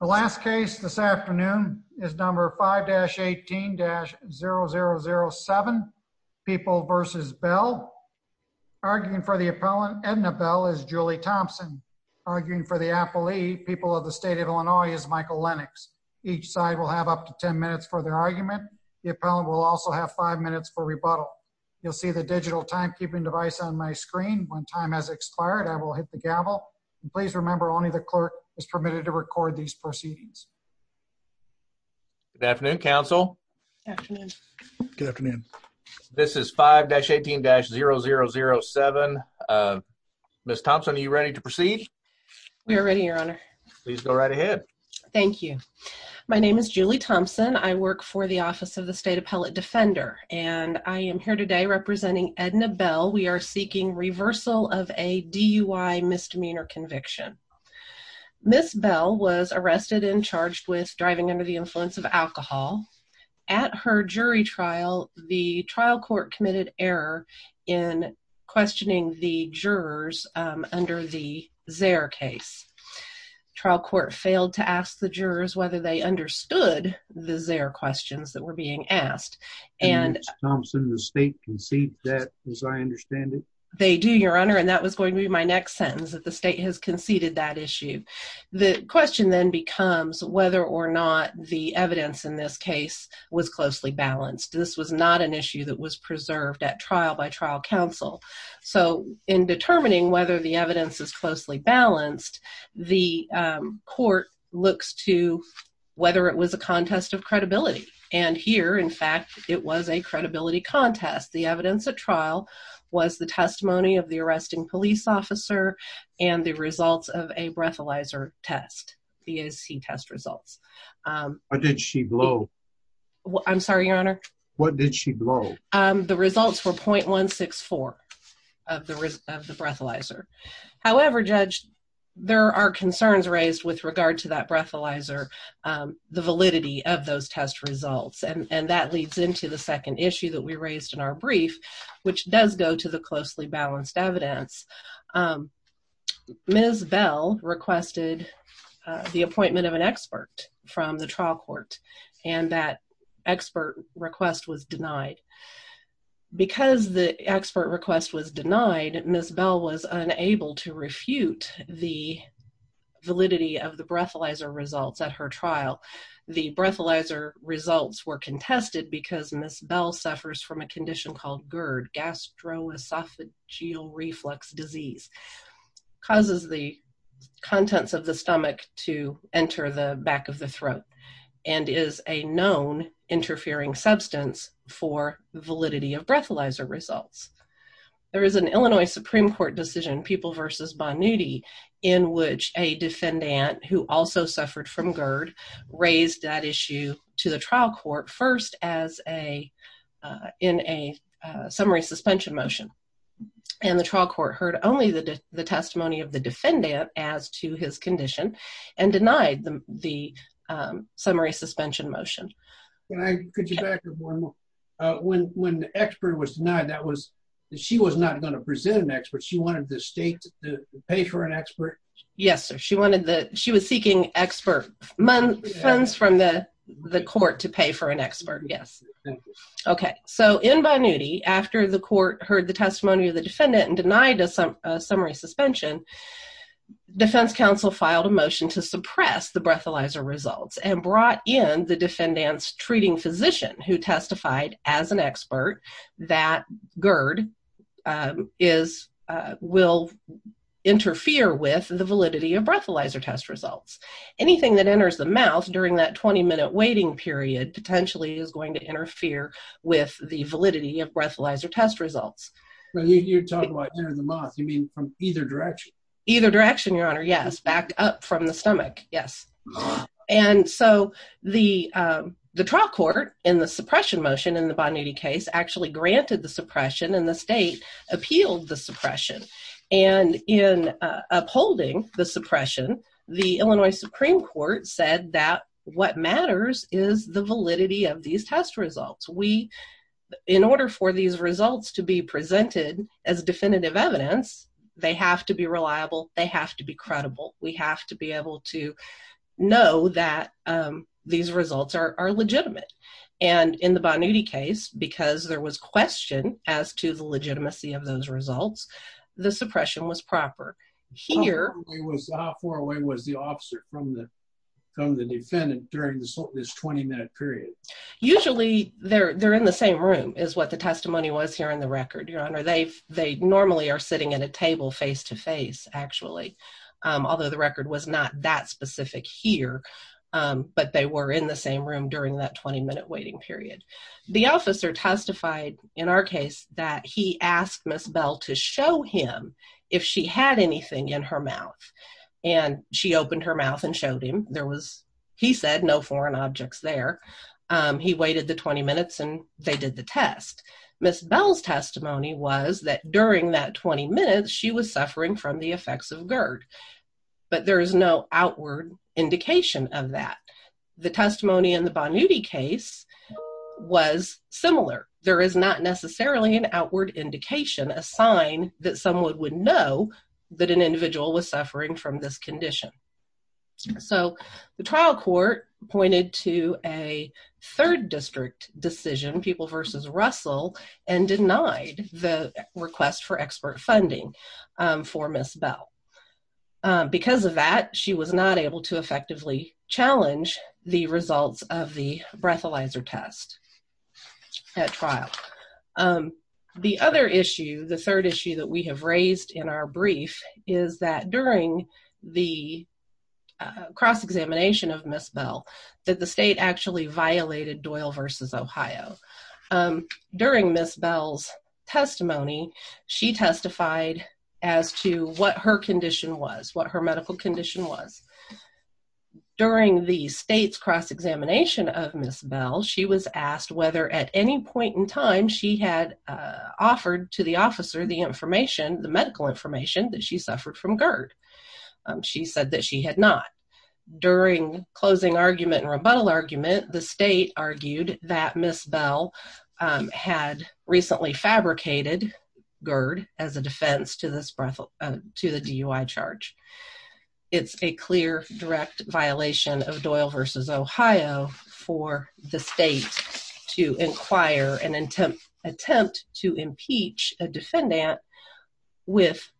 The last case this afternoon is number 5-18-0007, People v. Bell. Arguing for the appellant Edna Bell is Julie Thompson. Arguing for the appellee, People of the State of Illinois, is Michael Lennox. Each side will have up to 10 minutes for their argument. The appellant will also have 5 minutes for rebuttal. You'll see the digital timekeeping device on my screen. When time has expired, I will hit the gavel. Please remember only the clerk is permitted to record these proceedings. Good afternoon, counsel. Good afternoon. Good afternoon. This is 5-18-0007. Ms. Thompson, are you ready to proceed? We are ready, your honor. Please go right ahead. Thank you. My name is Julie Thompson. I work for the Office of the State Appellate Defender, and I am here today representing Edna Bell. We are seeking reversal of a DUI misdemeanor conviction. Ms. Bell was arrested and charged with driving under the influence of alcohol. At her jury trial, the trial court committed error in questioning the jurors under the Zare case. Trial court failed to ask the jurors whether they understood the Zare questions that were being asked. Ms. Thompson, the state conceded that, as I understand it? They do, your honor, and that was going to be my next sentence, that the state has conceded that issue. The question then becomes whether or not the evidence in this case was closely balanced. This was not an issue that was preserved at trial by trial counsel. So, in determining whether the evidence is closely balanced, the court looks to whether it was a contest of credibility. And here, in fact, it was a credibility contest. The evidence at trial was the testimony of the arresting police officer and the results of a breathalyzer test, BAC test results. What did she blow? I'm sorry, your honor? What did she blow? The results were .164 of the breathalyzer. However, Judge, there are concerns raised with regard to that breathalyzer, the validity of those test results, and that leads into the second issue that we raised in our brief, which does go to the closely balanced evidence. Ms. Bell requested the appointment of an expert from the trial court, and that expert request was denied. Because the expert request was denied, Ms. Bell was unable to refute the validity of the breathalyzer results at her trial. The breathalyzer results were contested because Ms. Bell suffers from a condition called GERD, gastroesophageal reflux disease, causes the contents of the stomach to enter the back of the throat, and is a known interfering substance for validity of breathalyzer results. There is an Illinois Supreme Court decision, People v. Bonnuti, in which a defendant who also suffered from GERD raised that issue to the trial court first as a, in a summary suspension motion. And the trial court heard only the testimony of the defendant as to his condition, and denied the summary suspension motion. Can I, could you back up one more? When the expert was denied, that was, she was not going to present an expert. She wanted the state to pay for an expert? Yes, sir. She wanted the, she was seeking expert funds from the court to pay for an expert, yes. Okay. So, in Bonnuti, after the court heard the testimony of the defendant and denied a summary suspension, defense counsel filed a motion to suppress the breathalyzer results, and brought in the defendant's treating physician, who testified as an expert that GERD is, will interfere with the validity of breathalyzer test results. Anything that enters the mouth during that 20 minute waiting period potentially is going to interfere with the validity of breathalyzer test results. When you talk about entering the mouth, you mean from either direction? Either direction, your honor, yes. Back up from the stomach, yes. And so, the, the trial court, in the suppression motion in the Bonnuti case, actually granted the suppression, and the state appealed the suppression. And in upholding the suppression, the Illinois Supreme Court said that what matters is the validity of these test results. We, in order for these to be reliable, they have to be credible. We have to be able to know that these results are legitimate. And in the Bonnuti case, because there was question as to the legitimacy of those results, the suppression was proper. Here- How far away was the officer from the, from the defendant during this 20 minute period? Usually they're, they're in the same room, is what the testimony was here in the record, your honor. They've, they normally are sitting at a table face to face, actually. Although the record was not that specific here. But they were in the same room during that 20 minute waiting period. The officer testified in our case that he asked Miss Bell to show him if she had anything in her mouth. And she opened her mouth and showed him there was, he said no foreign objects there. He waited the 20 minutes and they did the test. Miss Bell's testimony was that during that 20 minutes, she was suffering from the effects of GERD, but there is no outward indication of that. The testimony in the Bonnuti case was similar. There is not necessarily an outward indication, a sign that someone would know that an individual was suffering from this condition. So the trial court pointed to a Doyle versus Russell and denied the request for expert funding for Miss Bell. Because of that, she was not able to effectively challenge the results of the breathalyzer test at trial. The other issue, the third issue that we have raised in our brief is that during the cross examination of Miss Bell, that the state actually violated Doyle versus Ohio. During Miss Bell's testimony, she testified as to what her condition was, what her medical condition was. During the state's cross examination of Miss Bell, she was asked whether at any point in time she had offered to the officer the information, the medical information that she suffered from GERD. She said that she had not. During closing argument and rebuttal argument, the state argued that Miss Bell had recently fabricated GERD as a defense to the DUI charge. It's a clear direct violation of Doyle versus Ohio for the state to inquire and attempt to impeach a defendant with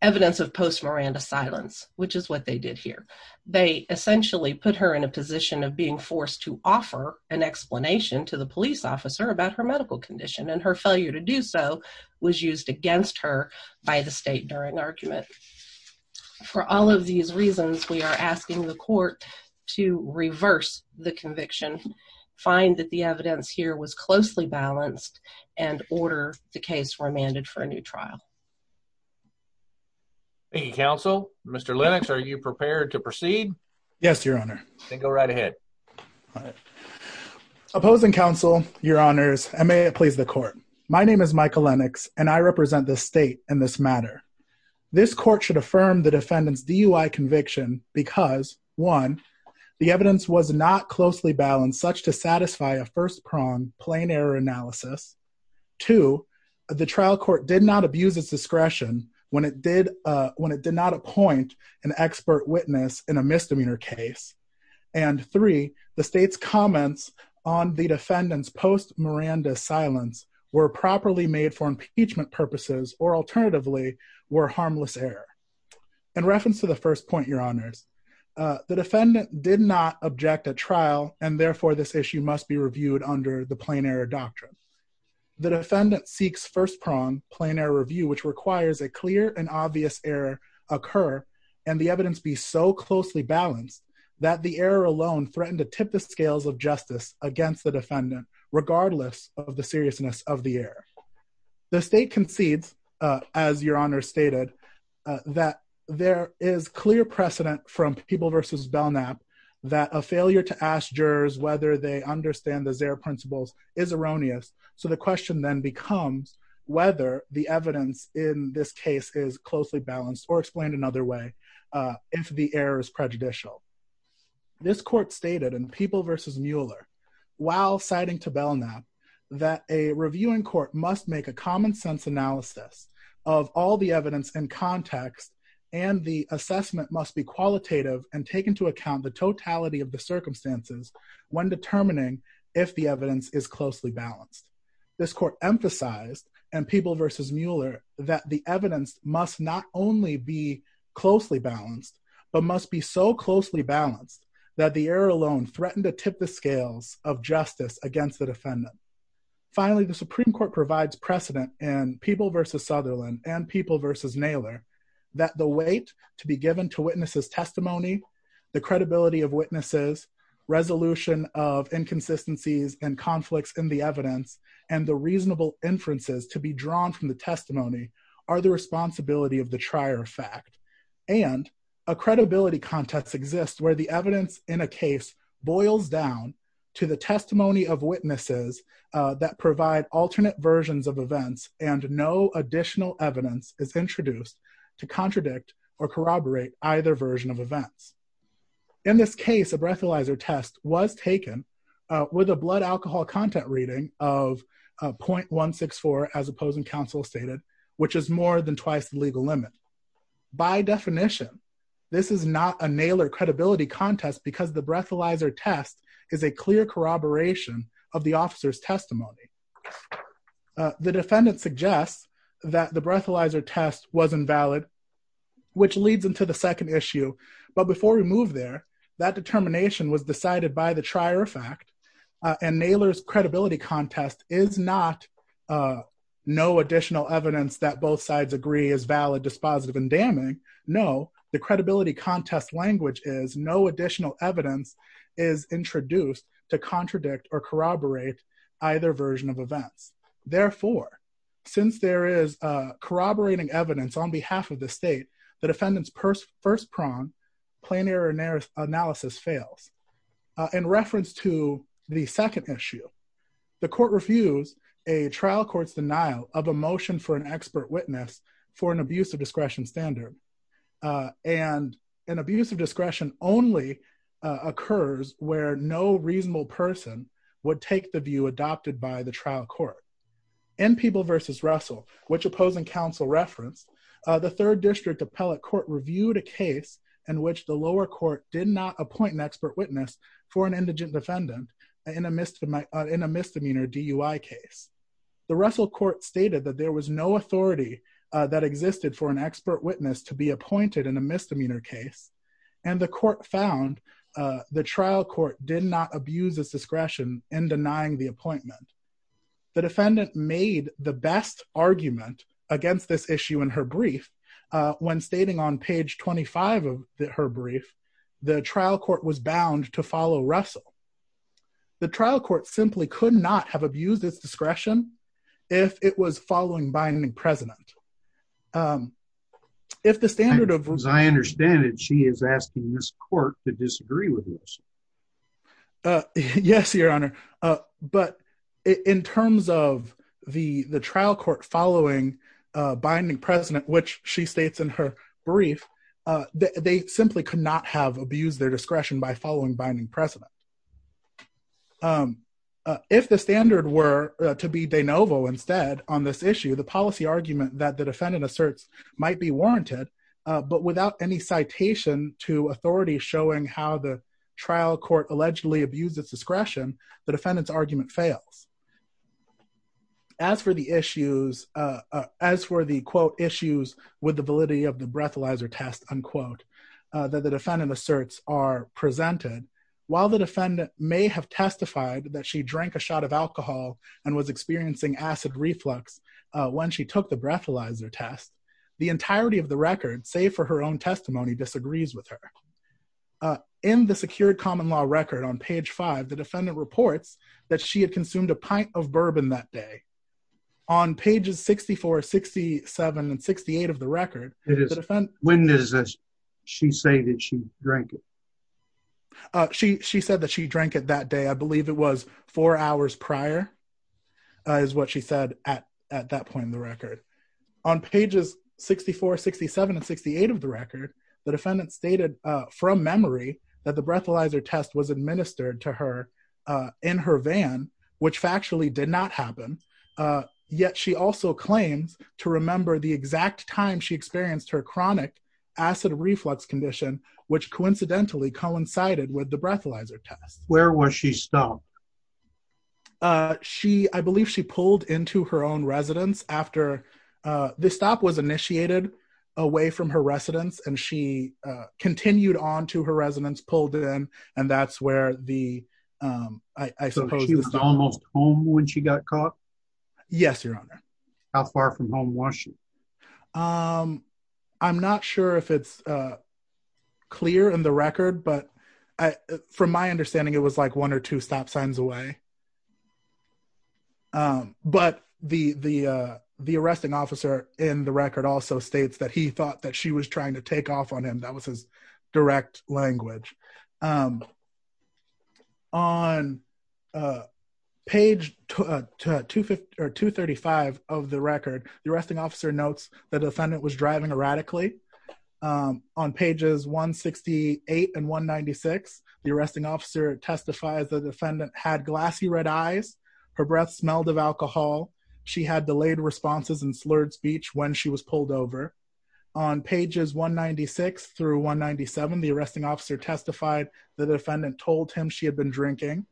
evidence of post Miranda silence, which is what they did here. They essentially put her in a position of being forced to offer an explanation to the police officer about her medical condition, and her failure to do so was used against her by the state during argument. For all of these reasons, we are asking the court to reverse the conviction, find that the evidence here was closely balanced, and order the case remanded for a new trial. Thank you, counsel. Mr. Lennox, are you prepared to proceed? Yes, your honor. Then go right ahead. Opposing counsel, your honors, and may it please the court. My name is Michael Lennox, and I represent the state in this matter. This court should affirm the evidence was not closely balanced such to satisfy a first-pronged plain error analysis. Two, the trial court did not abuse its discretion when it did not appoint an expert witness in a misdemeanor case. And three, the state's comments on the defendant's post Miranda silence were properly made for impeachment purposes or alternatively were harmless error. In reference to the first point, your honors, the defendant did not object at trial, and therefore this issue must be reviewed under the plain error doctrine. The defendant seeks first-pronged plain error review, which requires a clear and obvious error occur, and the evidence be so closely balanced that the error alone threatened to tip the scales of justice against the defendant, regardless of the seriousness of the error. The state concedes, as your honor stated, that there is clear precedent from People versus Belknap that a failure to ask jurors whether they understand the Zare principles is erroneous, so the question then becomes whether the evidence in this case is closely balanced or explained another way if the error is prejudicial. This court stated in People versus Mueller, while citing to Belknap, that a reviewing court must make a common-sense analysis of all the evidence in context and the assessment must be qualitative and take into account the totality of the circumstances when determining if the evidence is closely balanced. This court emphasized in People versus Mueller that the evidence must not only be closely balanced, but must be so of justice against the defendant. Finally, the Supreme Court provides precedent in People versus Sutherland and People versus Naylor that the weight to be given to witnesses' testimony, the credibility of witnesses, resolution of inconsistencies and conflicts in the evidence, and the reasonable inferences to be drawn from the testimony are the responsibility of the trier fact and a credibility contest exists where the evidence in a case boils down to the testimony of witnesses that provide alternate versions of events and no additional evidence is introduced to contradict or corroborate either version of events. In this case, a breathalyzer test was taken with a blood alcohol content reading of 0.164 as opposing counsel stated, which is more than twice the legal limit. By definition, this is not a Naylor credibility contest because the breathalyzer test is a clear corroboration of the officer's testimony. The defendant suggests that the breathalyzer test was invalid, which leads into the second issue, but before we move there, that determination was decided by the trier fact and Naylor's credibility contest is not no additional evidence that both sides agree is valid, dispositive and damning. No, the credibility contest language is no additional evidence is introduced to contradict or corroborate either version of events. Therefore, since there is corroborating evidence on behalf of the state, the defendant's first prong, plenary analysis fails. In reference to the second issue, the court refused a trial court's denial of a motion for an expert witness for an abuse of discretion standard and an abuse of discretion only occurs where no reasonable person would take the view adopted by the trial court. In People v. Russell, which opposing counsel referenced, the third district appellate court reviewed a case in which the lower court did not appoint expert witness for an indigent defendant in a misdemeanor DUI case. The Russell court stated that there was no authority that existed for an expert witness to be appointed in a misdemeanor case and the court found the trial court did not abuse its discretion in denying the appointment. The defendant made the best argument against this issue in her brief when stating on page 25 of her brief that the trial court was bound to follow Russell. The trial court simply could not have abused its discretion if it was following Binding President. If the standard of... As I understand it, she is asking this court to disagree with this. Yes, your honor, but in terms of the trial court following Binding President, which she states in her brief, they simply could not have abused their discretion by following Binding President. If the standard were to be de novo instead on this issue, the policy argument that the defendant asserts might be warranted, but without any citation to authority showing how the trial court allegedly abused its discretion, the defendant's argument fails. As for the issues... As for the, quote, issues with the validity of the breathalyzer test, unquote, that the defendant asserts are presented, while the defendant may have testified that she drank a shot of alcohol and was experiencing acid reflux when she took the breathalyzer test, the entirety of the record, save for her own testimony, disagrees with her. In the secured common law record on page five, the defendant reports that she had consumed a pint of bourbon that day. On pages 64, 67, and 68 of the record, the defendant... When does she say that she drank it? She said that she drank it that day. I believe it was four hours prior is what she said at that point in the record. On pages 64, 67, and 68 of the record, the defendant stated from memory that the breathalyzer test was administered to her in her van, which factually did not happen. Yet she also claims to remember the exact time she experienced her chronic acid reflux condition, which coincidentally coincided with the breathalyzer test. Where was she stopped? I believe she pulled into her own residence after... The stop was continued on to her residence, pulled in, and that's where the... So she was almost home when she got caught? Yes, your honor. How far from home was she? I'm not sure if it's clear in the record, but from my understanding, it was like one or two stop signs away. But the arresting officer in the record also states that he thought that she was trying to take off on him. That was his direct language. On page 235 of the record, the arresting officer notes the defendant was driving erratically. On pages 168 and 196, the arresting officer testifies the defendant had glassy red eyes. Her breath smelled of alcohol. She had delayed responses and slurred speech when she was pulled over. On pages 196 through 197, the arresting officer testified the defendant told him she had been drinking.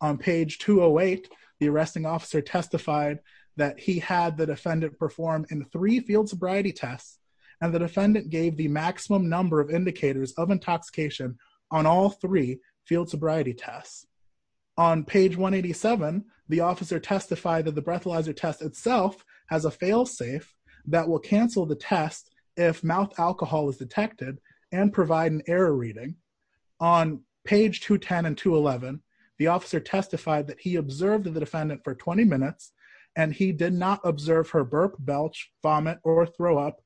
On page 208, the arresting officer testified that he had the defendant perform in three field sobriety tests, and the defendant gave the maximum number of indicators of intoxication on all three field sobriety tests. On page 187, the officer testified that the breathalyzer test itself has a fail safe that will cancel the test if mouth alcohol is detected and provide an error reading. On page 210 and 211, the officer testified that he observed the defendant for 20 minutes, and he did not observe her burp, belch, vomit, or throw up.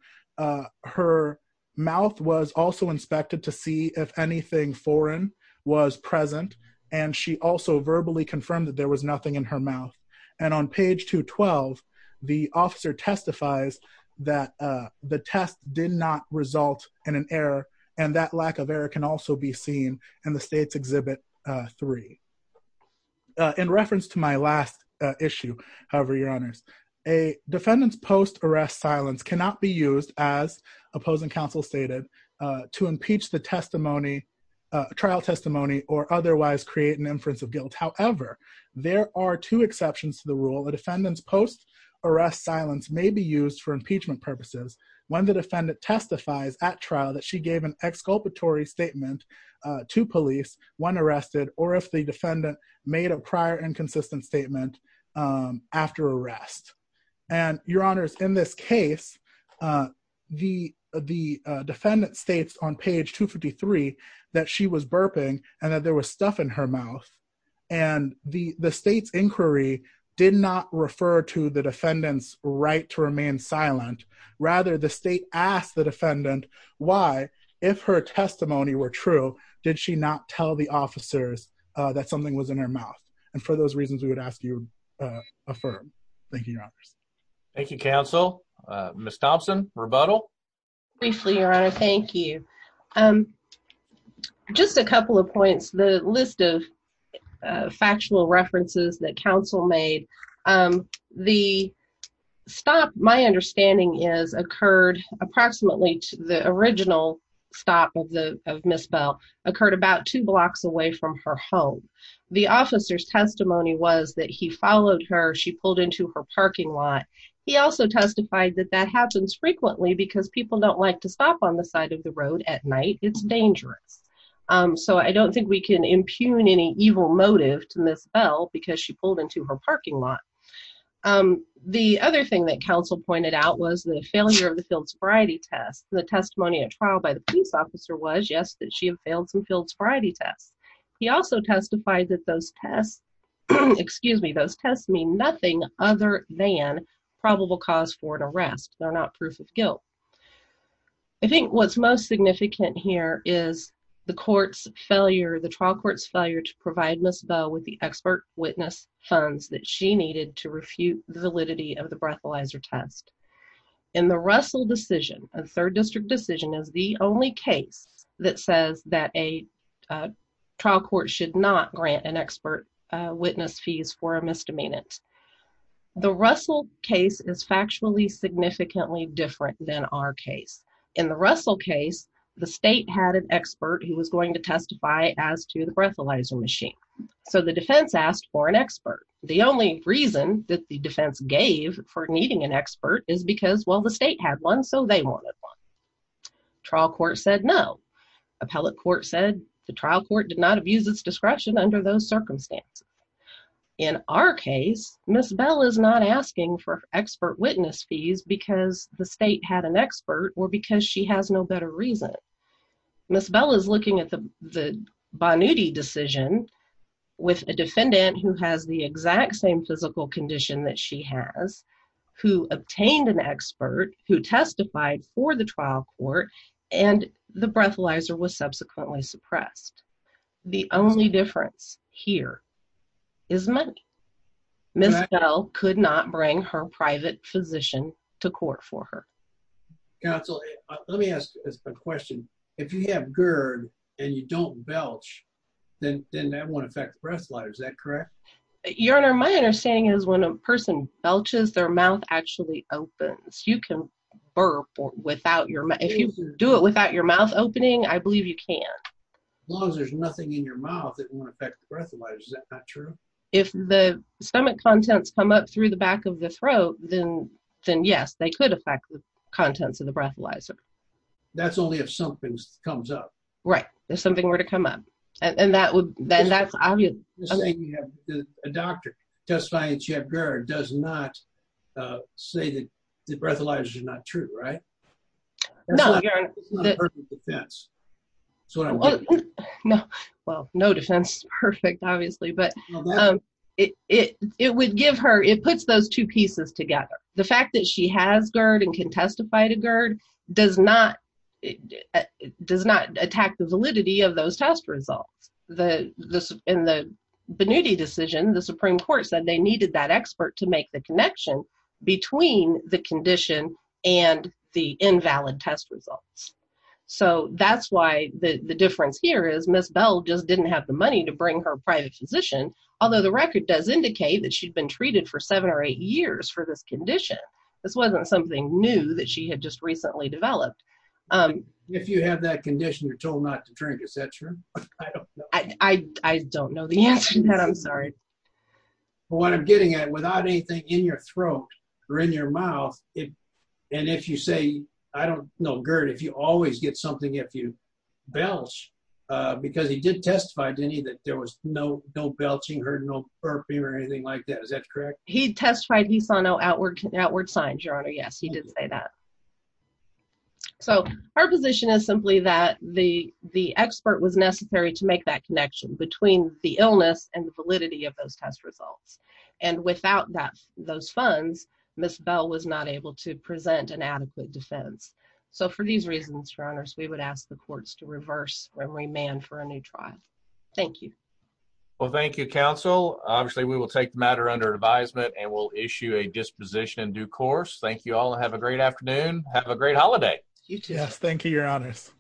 Her mouth was also inspected to see if anything foreign was present, and she also verbally confirmed that there was nothing in her mouth. And on page 212, the officer testifies that the test did not result in an error, and that lack of error can also be seen in the state's exhibit three. In reference to my last issue, however, your honors, a defendant's post-arrest silence cannot be used, as opposing counsel stated, to impeach the defendant's trial testimony or otherwise create an inference of guilt. However, there are two exceptions to the rule. A defendant's post-arrest silence may be used for impeachment purposes when the defendant testifies at trial that she gave an exculpatory statement to police when arrested, or if the defendant made a prior inconsistent statement after arrest. And your that she was burping and that there was stuff in her mouth. And the state's inquiry did not refer to the defendant's right to remain silent. Rather, the state asked the defendant why, if her testimony were true, did she not tell the officers that something was in her mouth. And for those reasons, we would ask you affirm. Thank you, your honors. Thank you, counsel. Ms. Thompson, rebuttal? Briefly, your honor. Thank you. Just a couple of points, the list of factual references that counsel made. The stop, my understanding is, occurred approximately to the original stop of Ms. Bell, occurred about two blocks away from her home. The officer's testimony was that he followed her, she pulled into her parking lot. He also testified that that happens frequently because people don't like to stop on the side of the road at night, it's dangerous. So I don't think we can impugn any evil motive to Ms. Bell because she pulled into her parking lot. The other thing that counsel pointed out was the failure of the field sobriety test. The testimony at trial by the police officer was, yes, that she had failed some field sobriety tests. He also testified that those tests, excuse me, those tests mean nothing other than probable cause for an arrest. They're not proof of guilt. I think what's most significant here is the court's failure, the trial court's failure to provide Ms. Bell with the expert witness funds that she needed to refute the validity of the breathalyzer test. In the Russell decision, a third district decision, is the only case that says that a trial court should not grant an expert witness fees for a misdemeanant. The Russell case is factually significantly different than our case. In the Russell case, the state had an expert who was going to testify as to the breathalyzer machine. So the defense asked for an expert. The only reason that the defense gave for needing an expert is because, well, the state had one, so they wanted one. Trial court said no. Appellate court said the trial court did not abuse its discretion under those circumstances. In our case, Ms. Bell is not asking for expert witness fees because the state had an expert or because she has no better reason. Ms. Bell is looking at the Bonudi decision with a defendant who has the exact same physical condition that she has, who obtained an expert, who testified for the breast. The only difference here is money. Ms. Bell could not bring her private physician to court for her. Counsel, let me ask a question. If you have GERD and you don't belch, then that won't affect the breath slider. Is that correct? Your Honor, my understanding is when a person belches, their mouth actually opens. You can burp without your mouth. If you do it without your mouth opening, I believe you can. As long as there's nothing in your mouth that won't affect the breath slider, is that not true? If the stomach contents come up through the back of the throat, then yes, they could affect the contents of the breath slider. That's only if something comes up. Right. If something were to come up. A doctor testifying that you have GERD does not say that the breath slider is not true, right? No, Your Honor. It's not a perfect defense. Well, no defense is perfect, obviously. It puts those two pieces together. The fact that she has GERD and can testify to GERD does not attack the validity of those test results. In the Bonudi decision, the Supreme Court said they needed that expert to make the connection between the condition and the invalid test results. That's why the difference here is Ms. Bell just didn't have the money to bring her private physician, although the record does indicate that she'd been treated for seven or eight years for this condition. This wasn't something new that she had just recently developed. If you have that condition, you're told not to drink, is that true? I don't know the answer to that, I'm sorry. What I'm getting at, without anything in your throat or in your mouth, and if you say, I don't know GERD, if you always get something if you belch, because he did testify, didn't he, that there was no belching, heard no burping or anything like that, is that correct? He testified he saw no outward signs, Your Honor. Yes, he did say that. So, her position is simply that the expert was necessary to make that connection between the illness and the validity of those test results, and without those funds, Ms. Bell was not able to present an adequate defense. So, for these reasons, Your Honors, we would ask the courts to reverse and remand for a new trial. Thank you. Well, thank you, counsel. Obviously, we will take the matter under advisement and we'll issue a disposition in due course. Thank you all, have a great afternoon, have a great holiday. Yes, thank you, Your Honors.